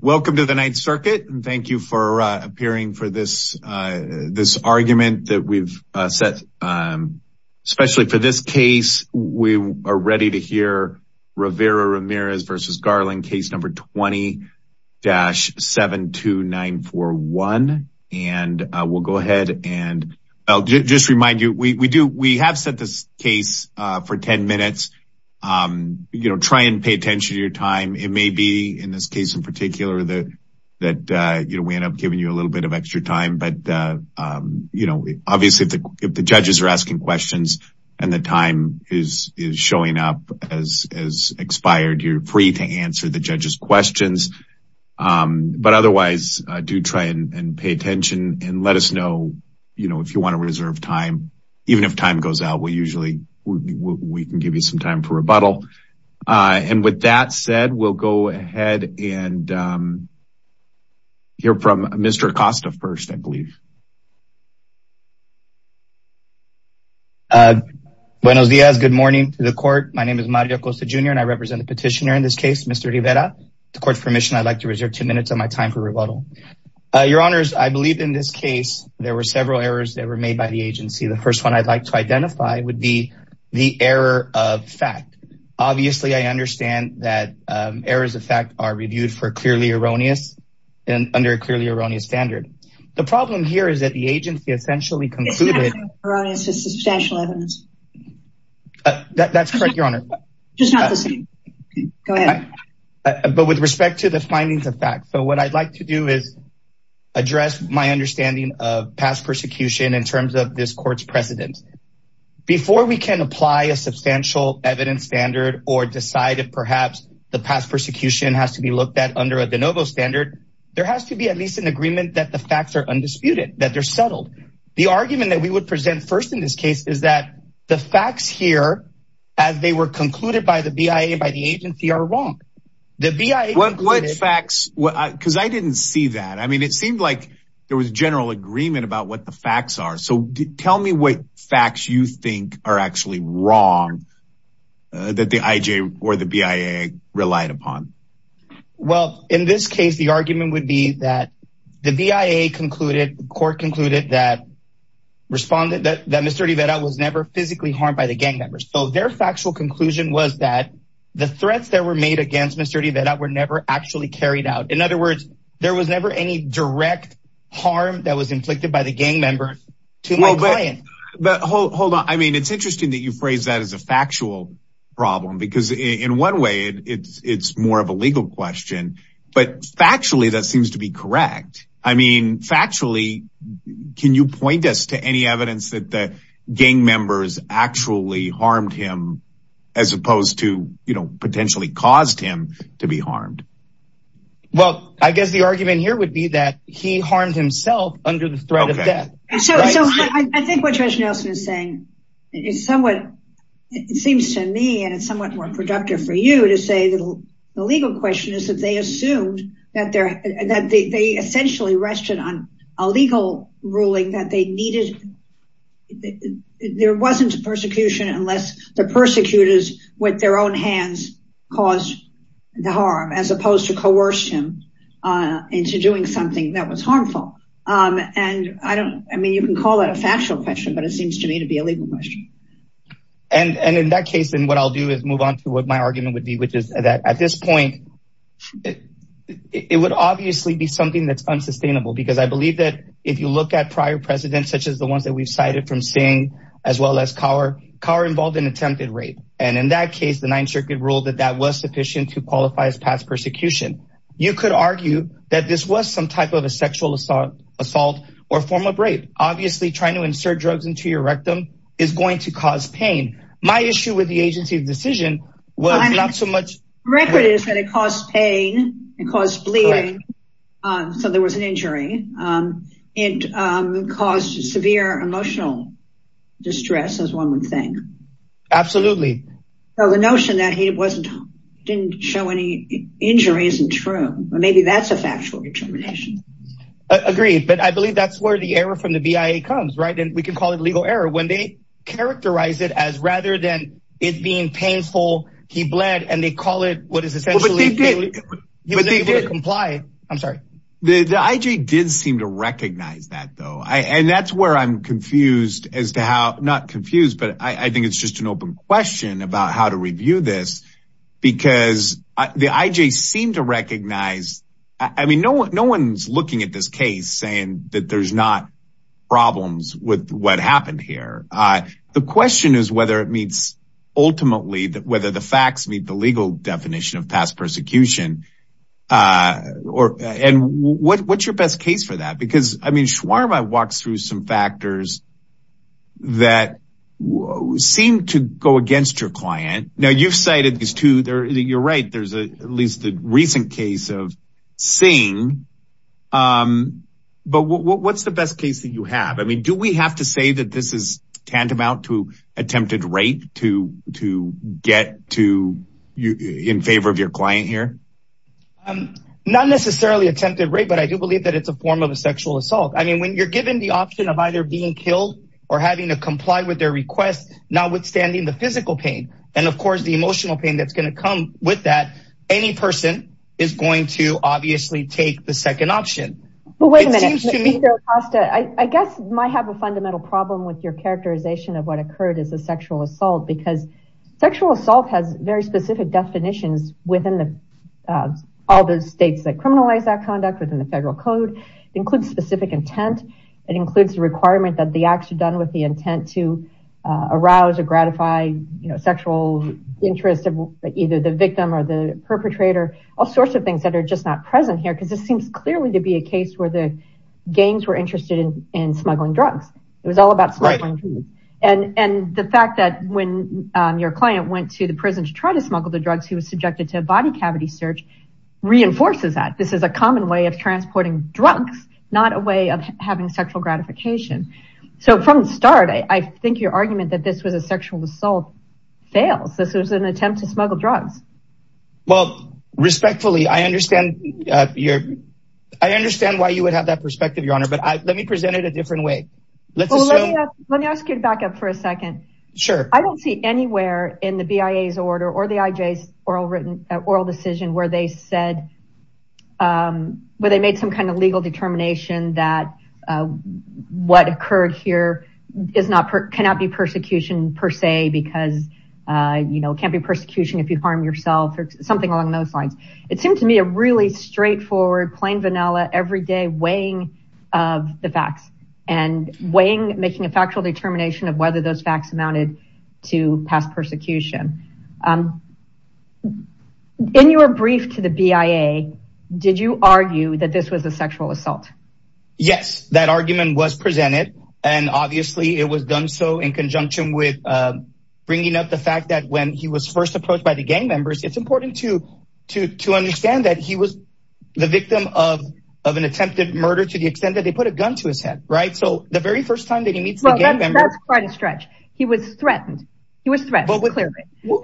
Welcome to the Ninth Circuit and thank you for appearing for this this argument that we've set especially for this case we are ready to hear Rivera-Ramirez versus Garland case number 20-72941 and we'll go ahead and I'll just remind you we do we have set this case for 10 minutes you know try and pay attention to your time it may be in this case in particular that that you know we end up giving you a little bit of extra time but you know obviously if the judges are asking questions and the time is is showing up as expired you're free to answer the judges questions but otherwise do try and pay attention and let us know you know if you want to reserve time even if time goes out we usually we can give you some time for rebuttal and with that said we'll go ahead and hear from Mr. Acosta first I believe. Buenos Dias good morning to the court my name is Mario Acosta Jr. and I represent the petitioner in this case Mr. Rivera to court's permission I'd like to reserve two minutes of my time for rebuttal your honors I believe in this case there were several errors that were made by the agency the first one I'd like to identify would be the error of fact obviously I understand that errors of fact are reviewed for clearly erroneous and under a clearly erroneous standard the problem here is that the agency essentially concluded that's correct your honor just not the same but with respect to the findings of fact so what I'd like to do is address my understanding of past persecution in before we can apply a substantial evidence standard or decide if perhaps the past persecution has to be looked at under a de novo standard there has to be at least an agreement that the facts are undisputed that they're settled the argument that we would present first in this case is that the facts here as they were concluded by the BIA by the agency are wrong the BIA what facts what because I didn't see that I mean it seemed like there was general agreement about what the facts are so tell me what facts you think are actually wrong that the IJ or the BIA relied upon well in this case the argument would be that the BIA concluded court concluded that responded that that mr. D that I was never physically harmed by the gang members so their factual conclusion was that the threats that were made against mr. D that I were never actually carried out in other words there was never any direct harm that was inflicted by the gang members to my client but hold on I mean it's interesting that you phrase that as a factual problem because in one way it's it's more of a legal question but factually that seems to be correct I mean factually can you point us to any evidence that the gang members actually harmed him as opposed to you know potentially caused him to be harmed well I guess the argument here would be that he harmed himself under the threat of death so I think what judge Nelson is saying is somewhat it seems to me and it's somewhat more productive for you to say the legal question is that they assumed that they're that they essentially rested on a legal ruling that they needed there wasn't a persecution unless the persecutors with their own hands caused the harm as doing something that was harmful and I don't I mean you can call it a factual question but it seems to me to be a legal question and and in that case and what I'll do is move on to what my argument would be which is that at this point it would obviously be something that's unsustainable because I believe that if you look at prior precedents such as the ones that we've cited from seeing as well as car car involved in attempted rape and in that case the Ninth Circuit ruled that that was sufficient to qualify as past you could argue that this was some type of a sexual assault assault or form of rape obviously trying to insert drugs into your rectum is going to cause pain my issue with the agency of decision well not so much record is that it caused pain and caused bleeding so there was an injury it caused severe emotional distress as one would think absolutely so the notion that he wasn't didn't show any injury isn't true maybe that's a factual determination agreed but I believe that's where the error from the BIA comes right and we can call it legal error when they characterize it as rather than it being painful he bled and they call it what is essentially comply I'm sorry the the IG did seem to recognize that though I and that's where I'm confused as to how not confused but I think it's just an open question about how to review this because the IJ seemed to recognize I mean no no one's looking at this case saying that there's not problems with what happened here the question is whether it meets ultimately that whether the facts meet the legal definition of past persecution or and what what's your best case for that because I mean shawarma walks through some factors that seem to go against your client now you've cited these two there you're right there's a at least the recent case of seeing but what's the best case that you have I mean do we have to say that this is tantamount to attempted rape to to get to you in favor of your client here I'm not necessarily attempted rape but I do believe that it's a form of a sexual assault I mean when you're given the option of either being killed or having to comply with their requests notwithstanding the physical pain and of course the emotional pain that's going to come with that any person is going to obviously take the second option I guess might have a fundamental problem with your characterization of what occurred is a sexual assault because sexual assault has very specific definitions within the all those states that criminalize that within the federal code includes specific intent it includes the requirement that the acts are done with the intent to arouse or gratify you know sexual interest of either the victim or the perpetrator all sorts of things that are just not present here because this seems clearly to be a case where the gangs were interested in smuggling drugs it was all about smuggling and and the fact that when your client went to the prison to try to smuggle the drugs he was subjected to a body cavity search reinforces that this is a common way of transporting drugs not a way of having sexual gratification so from the start I think your argument that this was a sexual assault fails this was an attempt to smuggle drugs well respectfully I understand your I understand why you would have that perspective your honor but I let me present it a different way let's let me ask you to back up for a second sure I don't see anywhere in the IJ's oral written oral decision where they said where they made some kind of legal determination that what occurred here is not cannot be persecution per se because you know can't be persecution if you harm yourself or something along those lines it seemed to me a really straightforward plain vanilla everyday weighing of the facts and weighing making a factual determination of whether those persecution in your brief to the BIA did you argue that this was a sexual assault yes that argument was presented and obviously it was done so in conjunction with bringing up the fact that when he was first approached by the gang members it's important to to to understand that he was the victim of an attempted murder to the extent that they put a gun to his head right so the very stretch he was threatened he was threatened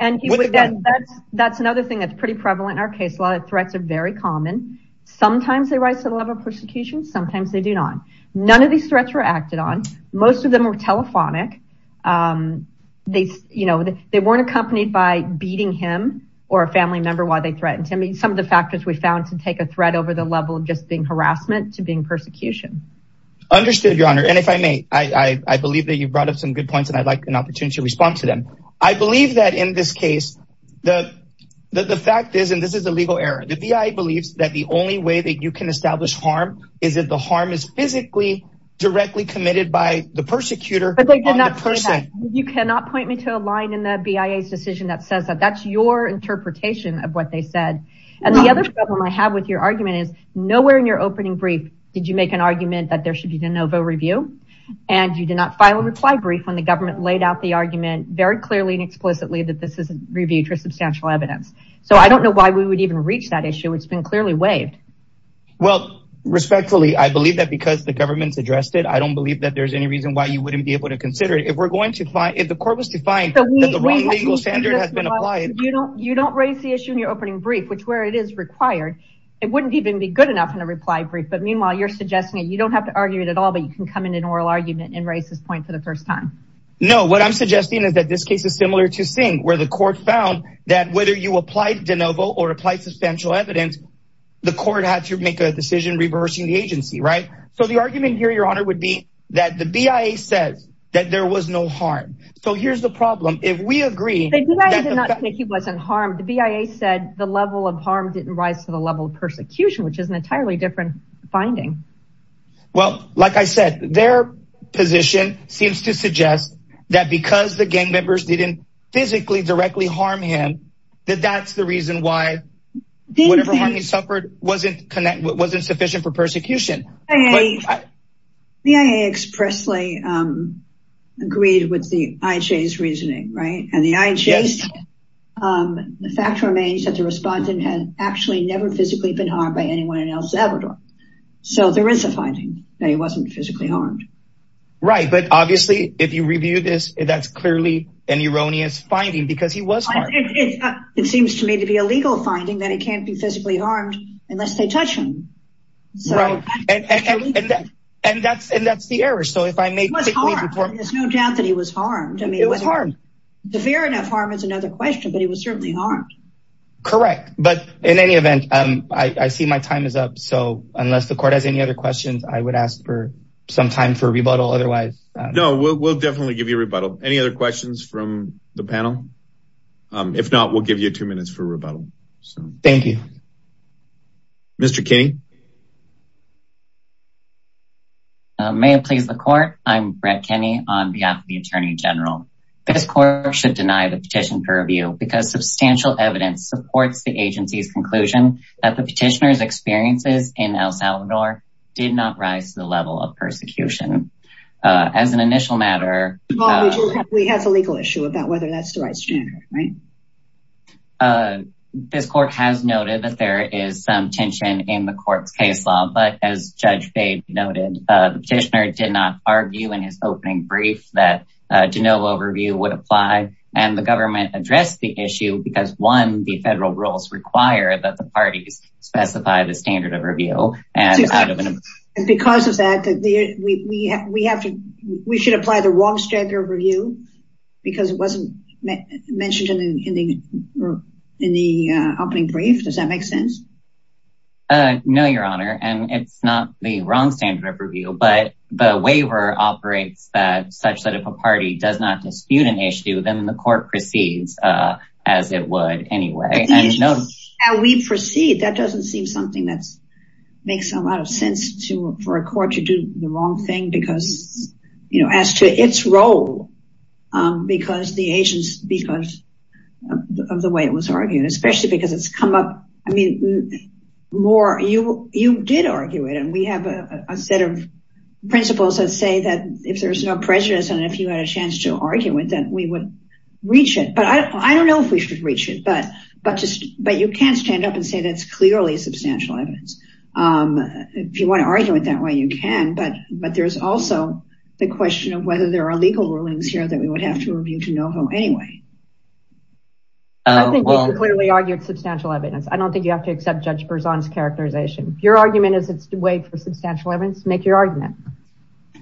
and that's that's another thing that's pretty prevalent in our case a lot of threats are very common sometimes they rise to the level of persecution sometimes they do not none of these threats were acted on most of them were telephonic they you know they weren't accompanied by beating him or a family member while they threatened to me some of the factors we found to take a threat over the level of just being I believe that you brought up some good points and I'd like an opportunity to respond to them I believe that in this case the the fact is and this is a legal error the BIA believes that the only way that you can establish harm is if the harm is physically directly committed by the persecutor but they did not person you cannot point me to a line in the BIA's decision that says that that's your interpretation of what they said and the other problem I have with your argument is nowhere in your opening brief did you make an argument that there should be the Novo review and you did not file a reply brief when the government laid out the argument very clearly and explicitly that this isn't reviewed for substantial evidence so I don't know why we would even reach that issue it's been clearly waived well respectfully I believe that because the government's addressed it I don't believe that there's any reason why you wouldn't be able to consider it if we're going to find if the court was to find the wrong legal standard has been applied you don't you don't raise the issue in your opening brief which where it is required it wouldn't even be good enough in a reply brief but meanwhile you're suggesting it you don't have to argue it at all but you can come in an oral argument and raise this point for the first time no what I'm suggesting is that this case is similar to sing where the court found that whether you applied DeNovo or apply substantial evidence the court had to make a decision reversing the agency right so the argument here your honor would be that the BIA says that there was no harm so here's the problem if we agree he wasn't harmed the BIA said the level of harm didn't rise to the level of persecution which is an entirely different finding well like I said their position seems to suggest that because the gang members didn't physically directly harm him that that's the reason why he suffered wasn't connected what wasn't sufficient for persecution hey the IA expressly agreed with the IJ's reasoning right and the IJ's the fact remains that the anyone else ever so there is a finding that he wasn't physically harmed right but obviously if you review this that's clearly an erroneous finding because he was it seems to me to be a legal finding that it can't be physically harmed unless they touch him and that's and that's the error so if I may there's no doubt that he was harmed I mean it was harm the fair enough harm is another question but he was certainly harmed correct but in any event I see my time is up so unless the court has any other questions I would ask for some time for rebuttal otherwise no we'll definitely give you a rebuttal any other questions from the panel if not we'll give you two minutes for rebuttal so thank you mr. King may it please the court I'm Brett Kenny on behalf of the Attorney General this court should deny the petition for review because substantial evidence supports the agency's conclusion that the petitioners experiences in El Salvador did not rise to the level of persecution as an initial matter we have a legal issue about whether that's the right standard right this court has noted that there is some tension in the court's case law but as judge Bate noted the petitioner did not argue in his opening brief that de novo overview would apply and the government addressed the issue because one the federal rules require that the parties specify the standard of review and because of that we have to we should apply the wrong standard of review because it wasn't mentioned in the opening brief does that make sense no your honor and it's not the wrong standard of review but the waiver operates that such that if a party does not dispute an issue then the court proceeds as it would anyway and no we proceed that doesn't seem something that's makes a lot of sense to for a court to do the wrong thing because you know as to its role because the agents because of the way it was arguing especially because it's come up I mean more you you did argue it and we have a set of principles that say that if there's no prejudice and if you had a chance to argue it then we would reach it but I don't know if we should reach it but but just but you can't stand up and say that's clearly a substantial evidence if you want to argue it that way you can but but there's also the question of whether there are legal rulings here that we would have to review to know who anyway clearly argued substantial evidence I don't think you have to accept judge Berzon's characterization your argument is its way for substantial evidence make your argument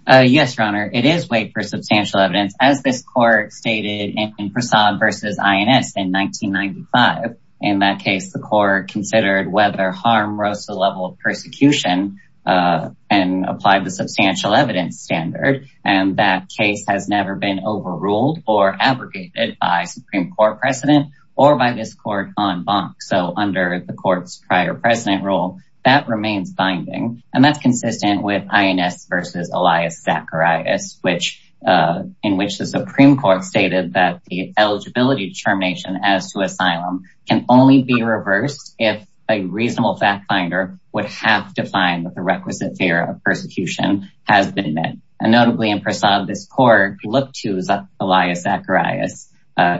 yes your honor it is way for substantial evidence as this court stated in facade versus INS in 1995 in that case the court considered whether harm rose to the level of persecution and applied the substantial evidence standard and that case has never been overruled or abrogated by Supreme Court precedent or by this court on bonk so under the court's prior precedent rule that remains binding and that's consistent with INS versus Elias Zacharias which in which the Supreme Court stated that the eligibility determination as to asylum can only be reversed if a reasonable fact finder would have to find the requisite fear of persecution has been met and notably in facade this court looked to Elias Zacharias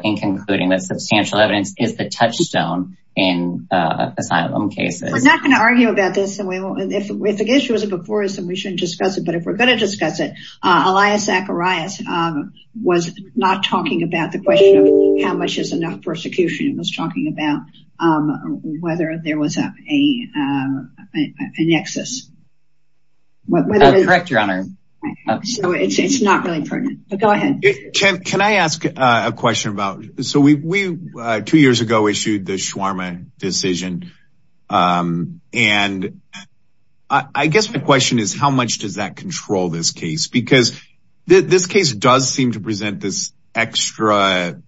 in concluding that touchstone in asylum cases we're not going to argue about this and we won't if the issue was a before us and we shouldn't discuss it but if we're going to discuss it Elias Zacharias was not talking about the question of how much is enough persecution was talking about whether there was a nexus correct your honor it's not really pertinent but go ahead can I ask a question about so we two years ago issued the shawarma decision and I guess my question is how much does that control this case because this case does seem to present this extra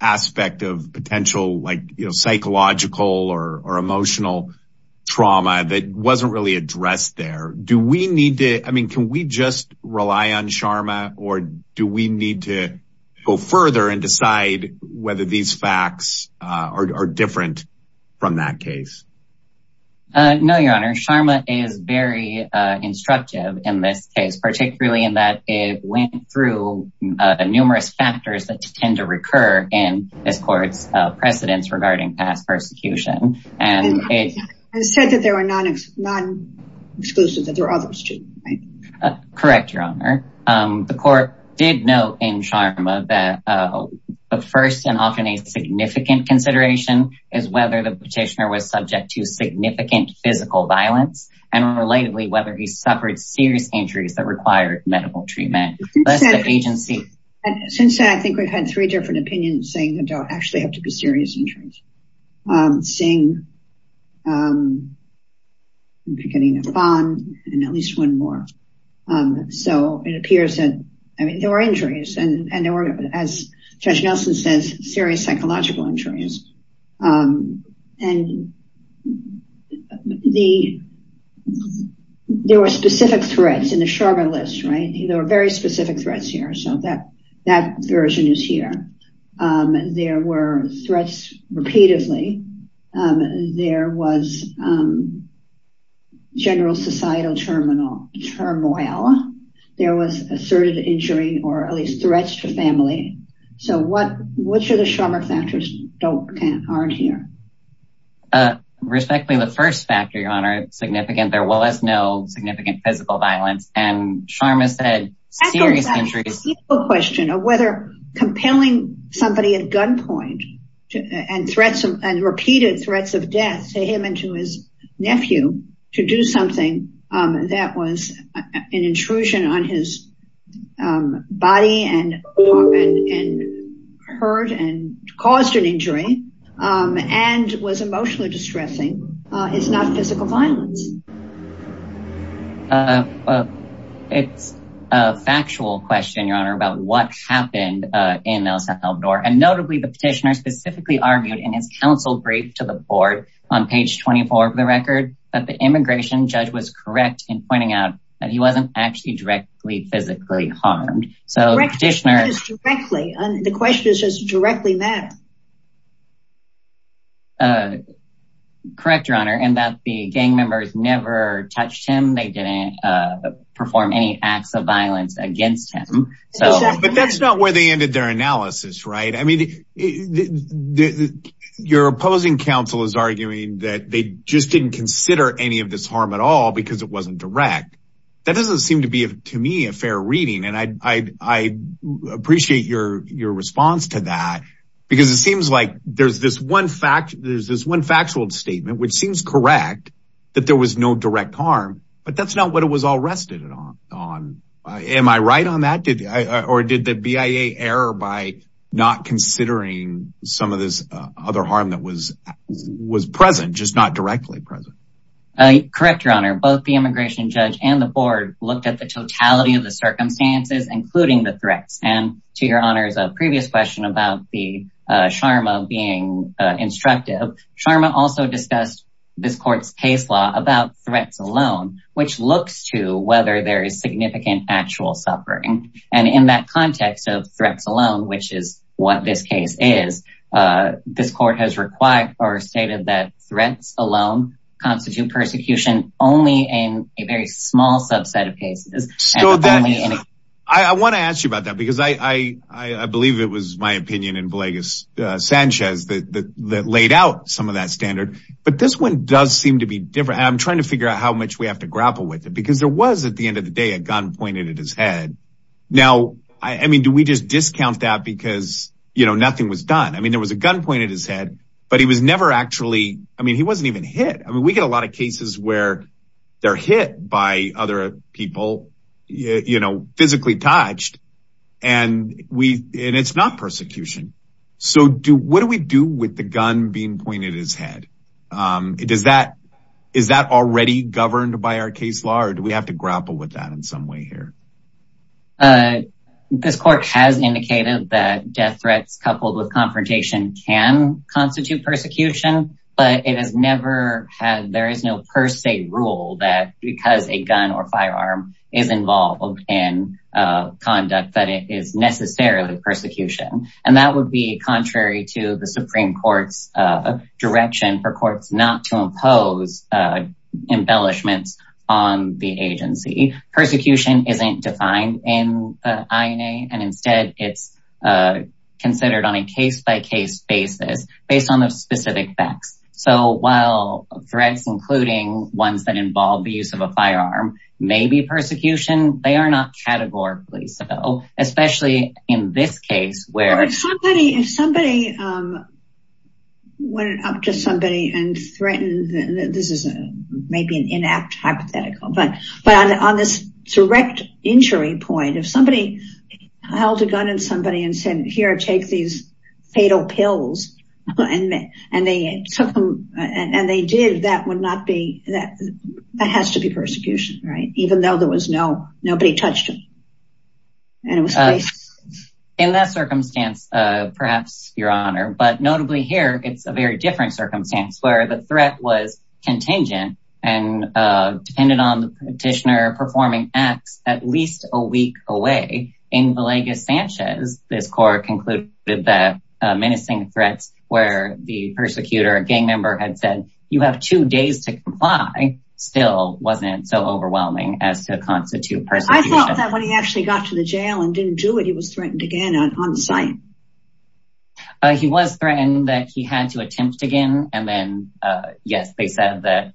aspect of potential like you know psychological or emotional trauma that wasn't really addressed there do we need to I mean can we just rely on facts are different from that case no your honor Sharma is very instructive in this case particularly in that it went through numerous factors that tend to recur in this court's precedents regarding past persecution and it said that there were none of none exclusive that there are others to correct your the court did note in Sharma that the first and often a significant consideration is whether the petitioner was subject to significant physical violence and relatedly whether he suffered serious injuries that required medical treatment agency since I think we've had three different opinions saying that don't actually have to be serious injuries seeing getting a bond at least one more so it appears that I mean there were injuries and and there were as judge Nelson says serious psychological injuries and the there were specific threats in the Sharma list right there were very specific threats here so that that version is here there were threats repeatedly there was general societal terminal turmoil there was asserted injury or at least threats to family so what which are the Sharma factors don't can't aren't here respectfully the first factor your honor significant there was no significant physical violence and Sharma said serious injuries question of whether compelling somebody at gunpoint and threats and repeated threats of death to him and to his nephew to do something that was an intrusion on his body and hurt and caused an injury and was emotionally distressing it's not physical violence it's a factual question your honor about what happened in El Salvador and notably the petitioner specifically argued in his to the board on page 24 of the record that the immigration judge was correct in pointing out that he wasn't actually directly physically harmed so the question is just directly matter correct your honor and that the gang members never touched him they didn't perform any acts of violence against him so but that's not where they ended their analysis right I mean your opposing counsel is arguing that they just didn't consider any of this harm at all because it wasn't direct that doesn't seem to be to me a fair reading and I appreciate your your response to that because it seems like there's this one fact there's this one factual statement which seems correct that there was no direct harm but that's not what it was all rested on am I right on that did I or did the BIA error by not considering some of this other harm that was was present just not directly present I correct your honor both the immigration judge and the board looked at the totality of the circumstances including the threats and to your honors a previous question about the Sharma being instructive Sharma also discussed this court's case law about threats alone which looks to whether there is significant actual suffering and in that context of threats alone which is what this case is this court has required or stated that threats alone constitute persecution only in a very small subset of cases so then I want to ask you about that because I I believe it was my opinion in but this one does seem to be different I'm trying to figure out how much we have to grapple with it because there was at the end of the day a gun pointed at his head now I mean do we just discount that because you know nothing was done I mean there was a gun pointed his head but he was never actually I mean he wasn't even hit I mean we get a lot of cases where they're hit by other people you know physically touched and we and it's not persecution so do what do we do with the gun being pointed his head it does that is that already governed by our case law or do we have to grapple with that in some way here this court has indicated that death threats coupled with confrontation can constitute persecution but it has never had there is no per se rule that because a gun or firearm is involved in conduct that it is necessarily persecution and that would be contrary to the Supreme Court's direction for courts not to impose embellishments on the agency persecution isn't defined in INA and instead it's considered on a case-by-case basis based on the specific facts so while threats including ones that involve the use of a firearm may be persecution they are not categorically so especially in this case where somebody if somebody went up to somebody and threatened this is a maybe an inept hypothetical but but on this direct injury point if somebody held a gun and somebody and said here take these fatal pills and and they took them and they did that would not be that that has to be persecution right even though there was no nobody touched him and it was in that circumstance perhaps your honor but notably here it's a very different circumstance where the threat was contingent and depended on the petitioner performing acts at least a week away in Villegas Sanchez this court concluded that menacing threats where the persecutor a gang member had said you have two days to comply still wasn't so overwhelming as to constitute I thought that when he actually got to the jail and didn't do it he was threatened again on site he was threatened that he had to attempt again and then yes they said that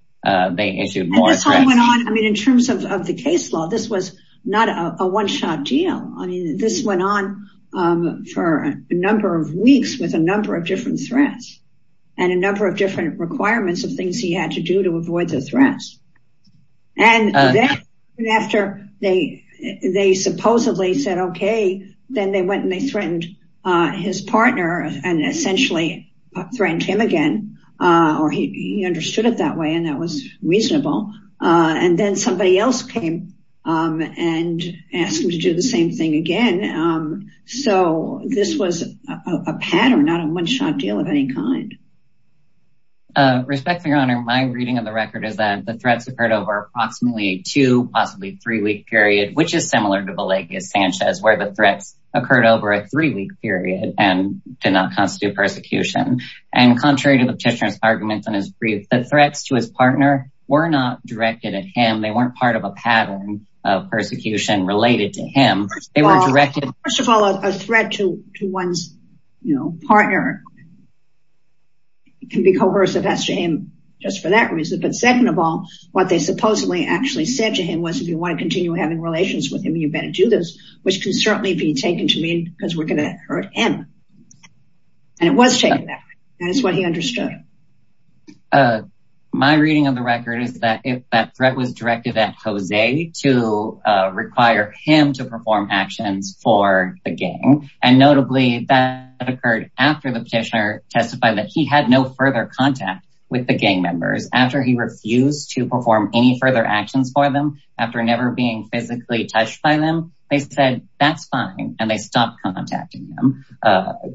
they issued more I mean in terms of the case law this was not a one-shot deal I mean this went on for a number of weeks with a number of different threats and a number of and then after they they supposedly said okay then they went and they threatened his partner and essentially threatened him again or he understood it that way and that was reasonable and then somebody else came and asked him to do the same thing again so this was a pattern not a one-shot deal of any kind. Respect for your honor my reading of record is that the threats occurred over approximately two possibly three-week period which is similar to Villegas Sanchez where the threats occurred over a three-week period and did not constitute persecution and contrary to the petitioner's arguments on his brief the threats to his partner were not directed at him they weren't part of a pattern of persecution related to him they were directed first of all a threat to to one's you know partner can be coercive that's to him just for that reason but second of all what they supposedly actually said to him was if you want to continue having relations with him you better do this which can certainly be taken to mean because we're going to hurt him and it was taken back that is what he understood. My reading of the record is that if that threat was directed at Jose to require him to perform actions for the gang and notably that occurred after the petitioner testified that he had no further contact with the gang members after he refused to perform any further actions for them after never being physically touched by them they said that's fine and they stopped contacting them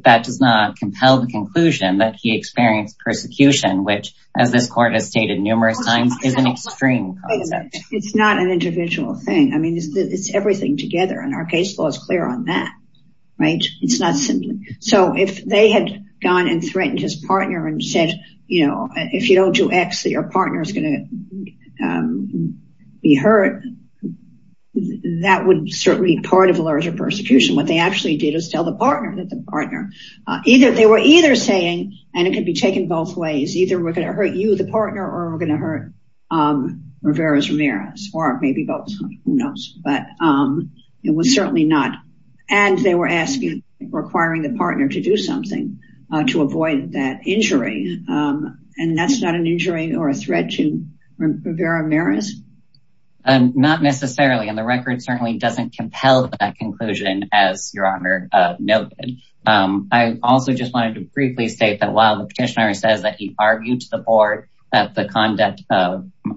that does not compel the conclusion that he experienced persecution which as this court has stated numerous times is an extreme concept. It's not an individual thing I mean it's everything together and our case law is clear on that right it's not simply so if they had gone and threatened his partner and said you know if you don't do x that your partner is going to be hurt that would certainly be part of a larger persecution what they actually did is tell the partner that the partner either they were either saying and it could be taken both ways either we're going to hurt you the partner or we're going to hurt Rivera's Ramirez or maybe both who knows but it was certainly not and they were asking requiring the partner to do something to avoid that injury and that's not an injury or a threat to Rivera Ramirez. Not necessarily and the record certainly doesn't compel that conclusion as your honor noted. I also just wanted to briefly state that while the petitioner says that he argued to the board that the conduct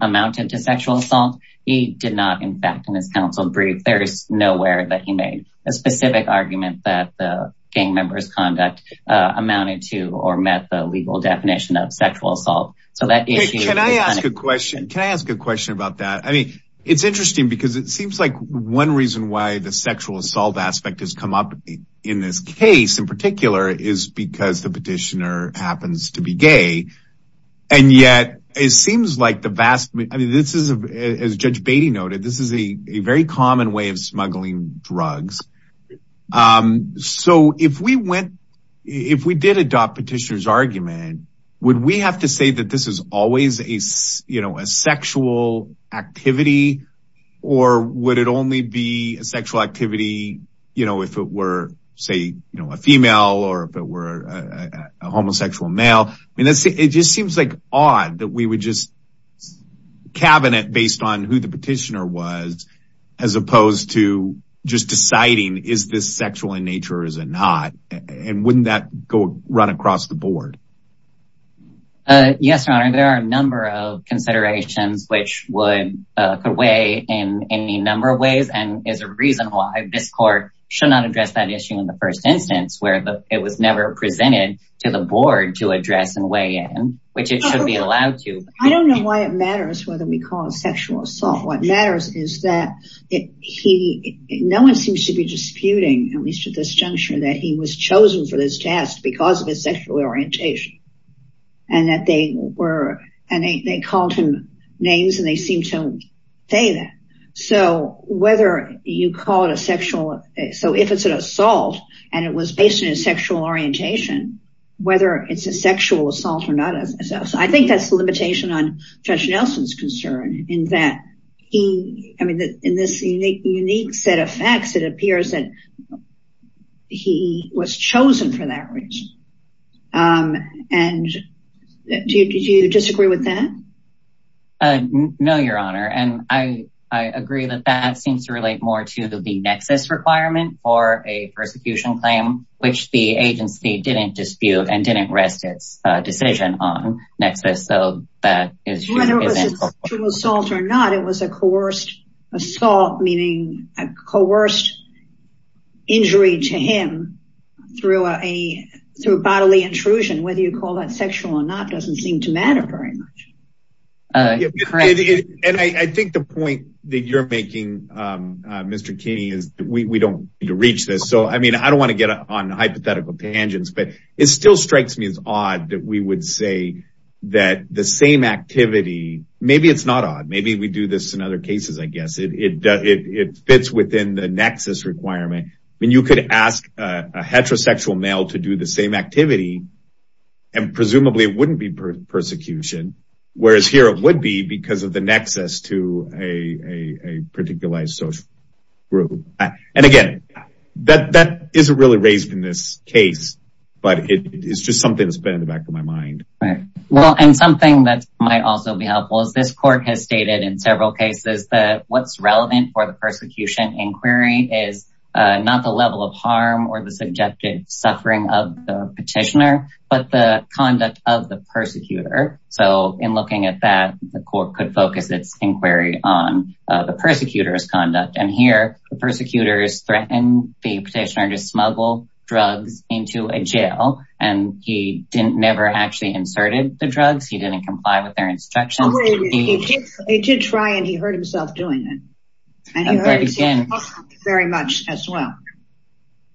amounted to sexual assault he did not in fact in his counsel brief there's nowhere that he made a specific argument that the gang members conduct amounted to or met the legal definition of sexual assault. So that can I ask a question can I ask a question about that I mean it's interesting because it seems like one reason why the sexual assault aspect has come up in this case in particular is because the petitioner happens to be gay and yet it seems like the vast I mean this is as Judge Beatty noted this is a very common way of smuggling drugs so if we went if we did adopt petitioner's argument would we have to say that this is always a you know a sexual activity or would it only be a sexual activity you know if it were say you know a female or if it were a homosexual male I mean that's it just seems like odd that we would just cabinet based on who the petitioner was as opposed to just deciding is this sexual in nature or is it not and wouldn't that go run across the board? Yes your honor there are a number of considerations which would could weigh in any number of ways and is a reason why this court should not address that issue in the first instance where it was never presented to the board to address and weigh in which it should be allowed to. I don't know why it matters whether we call it sexual assault what matters is that he no one seems to be disputing at least at this juncture that he was chosen for this task because of his sexual orientation and that they were and they called him names and they it was based on his sexual orientation whether it's a sexual assault or not so I think that's the limitation on Judge Nelson's concern in that he I mean that in this unique set of facts it appears that he was chosen for that reason and do you disagree with that? No your honor and I claim which the agency didn't dispute and didn't rest its decision on next so that is whether it was sexual assault or not it was a coerced assault meaning a coerced injury to him through a through bodily intrusion whether you call that sexual or not doesn't seem to matter very much. Correct and I think the point that you're making Mr. Keeney is we don't need to reach this so I mean I don't want to get on hypothetical tangents but it still strikes me as odd that we would say that the same activity maybe it's not odd maybe we do this in other cases I guess it does it fits within the nexus requirement I mean you could ask a heterosexual male to do the same activity and presumably it wouldn't be persecution whereas here it would be because of the nexus to a particularized social group and again that that isn't really raised in this case but it is just something that's been in the back of my mind. Right well and something that might also be helpful is this court has stated in several cases that what's relevant for the persecution inquiry is not the level of harm or the subjective suffering of the petitioner but the conduct of the persecutor so in looking at that the court could focus its inquiry on the persecutor's conduct and here the persecutors threaten the petitioner to smuggle drugs into a jail and he didn't never actually inserted the drugs he didn't comply with their instructions. He did try and he hurt himself doing it and he hurt himself very much as well.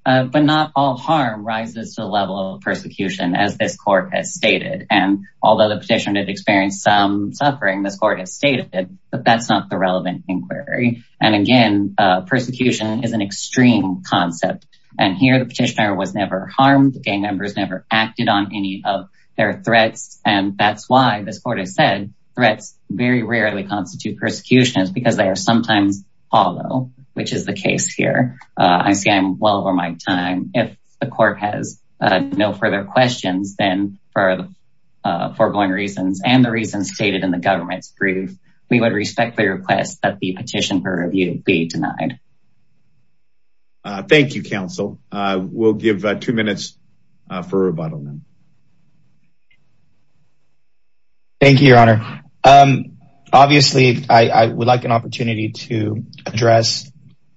But not all harm rises to the level of persecution as this court has stated and although the petitioner did experience some suffering this court has stated that that's not the relevant inquiry and again persecution is an extreme concept and here the petitioner was never harmed the gang members never acted on any of their threats and that's why this said threats very rarely constitute persecutions because they are sometimes hollow which is the case here. I see I'm well over my time if the court has no further questions then for the foregoing reasons and the reasons stated in the government's brief we would respectfully request that the petition for review be denied. Thank you counsel we'll give two minutes for rebuttal now. Thank you your honor. Obviously I would like an opportunity to address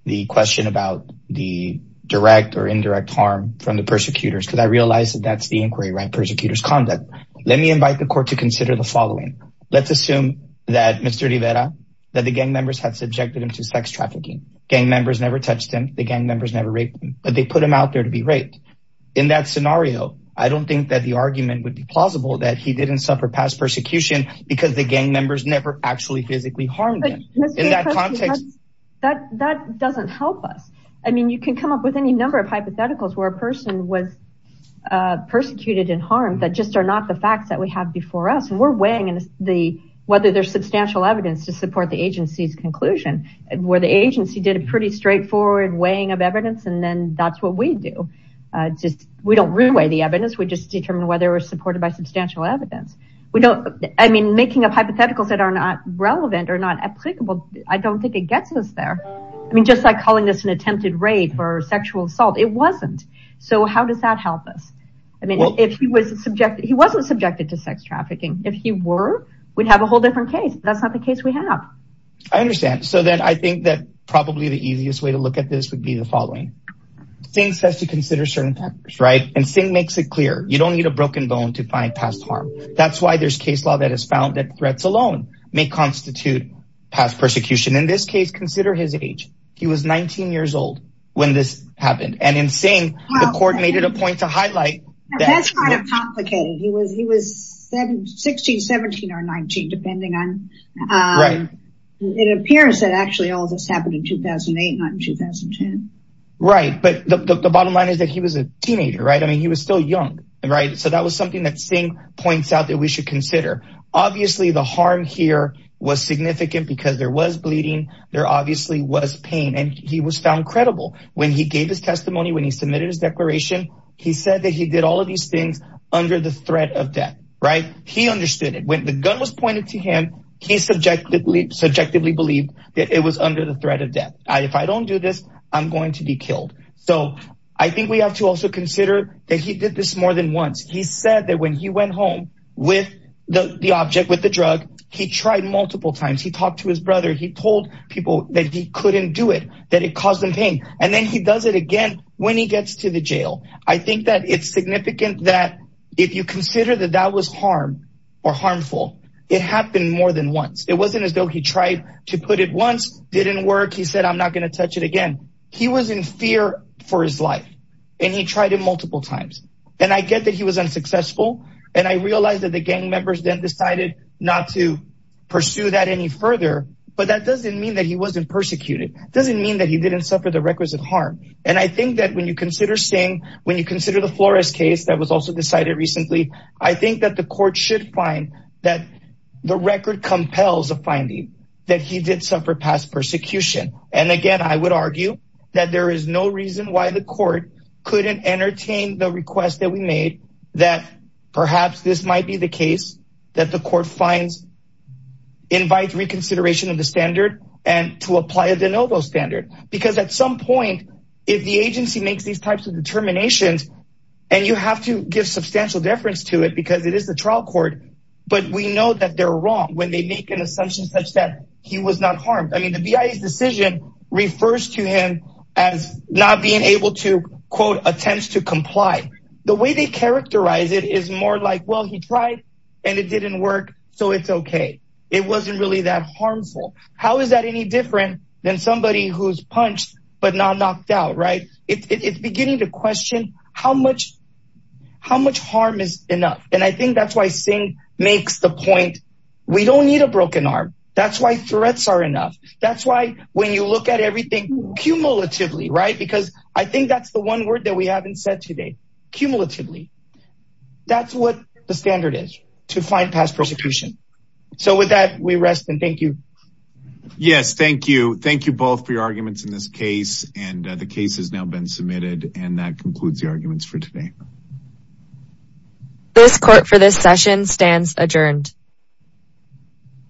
the question about the direct or indirect harm from the persecutors because I realize that that's the inquiry right persecutors conduct. Let me invite the court to consider the following. Let's assume that Mr. Rivera that the gang members have subjected him to sex trafficking gang members never touched him the gang members never raped him but they put him out there to be raped. In that scenario I don't think that the argument would be plausible that he didn't suffer past persecution because the gang members never actually physically harmed him. That doesn't help us I mean you can come up with any number of hypotheticals where a person was persecuted and harmed that just are not the facts that we have before us and we're weighing in the whether there's substantial evidence to support the agency's conclusion where the agency did a pretty straightforward weighing of evidence and then that's what we do just we don't really weigh the evidence we just determine whether we're supported by substantial evidence we don't I mean making up hypotheticals that are not relevant or not applicable I don't think it gets us there I mean just like calling this an attempted rape or sexual assault it wasn't so how does that help us I mean if he was subjected he wasn't subjected to sex trafficking if he were we'd have a whole different case that's not the case we have. I understand so then I think that probably the easiest way to look at this would be the following Singh says to consider certain factors right and Singh makes it clear you don't need a broken bone to find past harm that's why there's case law that has found that threats alone may constitute past persecution in this case consider his age he was 19 years old when this happened and in saying the court made it a point to highlight that's kind of complicated he was he was 16 17 or 19 depending on um it appears that actually all this happened in 2008 not in 2010 right but the bottom line is that he was a teenager right I mean he was still young right so that was something that Singh points out that we should consider obviously the harm here was significant because there was bleeding there obviously was pain and he was found credible when he gave his testimony when he submitted his declaration he said that he did all of these things under the threat of death right he understood it when the gun was pointed to him he subjectively believed that it was under the threat of death if I don't do this I'm going to be killed so I think we have to also consider that he did this more than once he said that when he went home with the the object with the drug he tried multiple times he talked to his brother he told people that he couldn't do it that it caused him pain and then he does it again when he gets to the jail I think that it's significant that if you consider that that was harm or harmful it happened more than once it wasn't as though he tried to put it once didn't work he said I'm not going to touch it again he was in fear for his life and he tried it multiple times and I get that he was unsuccessful and I realized that the gang members then decided not to pursue that any further but that doesn't mean that he wasn't persecuted doesn't mean that he didn't suffer the requisite harm and I think that when you consider saying when you consider the Flores case that was also decided recently I think that the court should find that the record compels a finding that he did suffer past persecution and again I would argue that there is no reason why the court couldn't entertain the request that we made that perhaps this might be the case that the court finds invites reconsideration of the standard and to apply a de novo standard because at some point if the agency makes these determinations and you have to give substantial deference to it because it is the trial court but we know that they're wrong when they make an assumption such that he was not harmed I mean the BIA's decision refers to him as not being able to quote attempts to comply the way they characterize it is more like well he tried and it didn't work so it's okay it wasn't really that harmful how is any different than somebody who's punched but not knocked out right it's beginning to question how much how much harm is enough and I think that's why Singh makes the point we don't need a broken arm that's why threats are enough that's why when you look at everything cumulatively right because I think that's the one word that we haven't said today cumulatively that's what the thank you thank you both for your arguments in this case and the case has now been submitted and that concludes the arguments for today this court for this session stands adjourned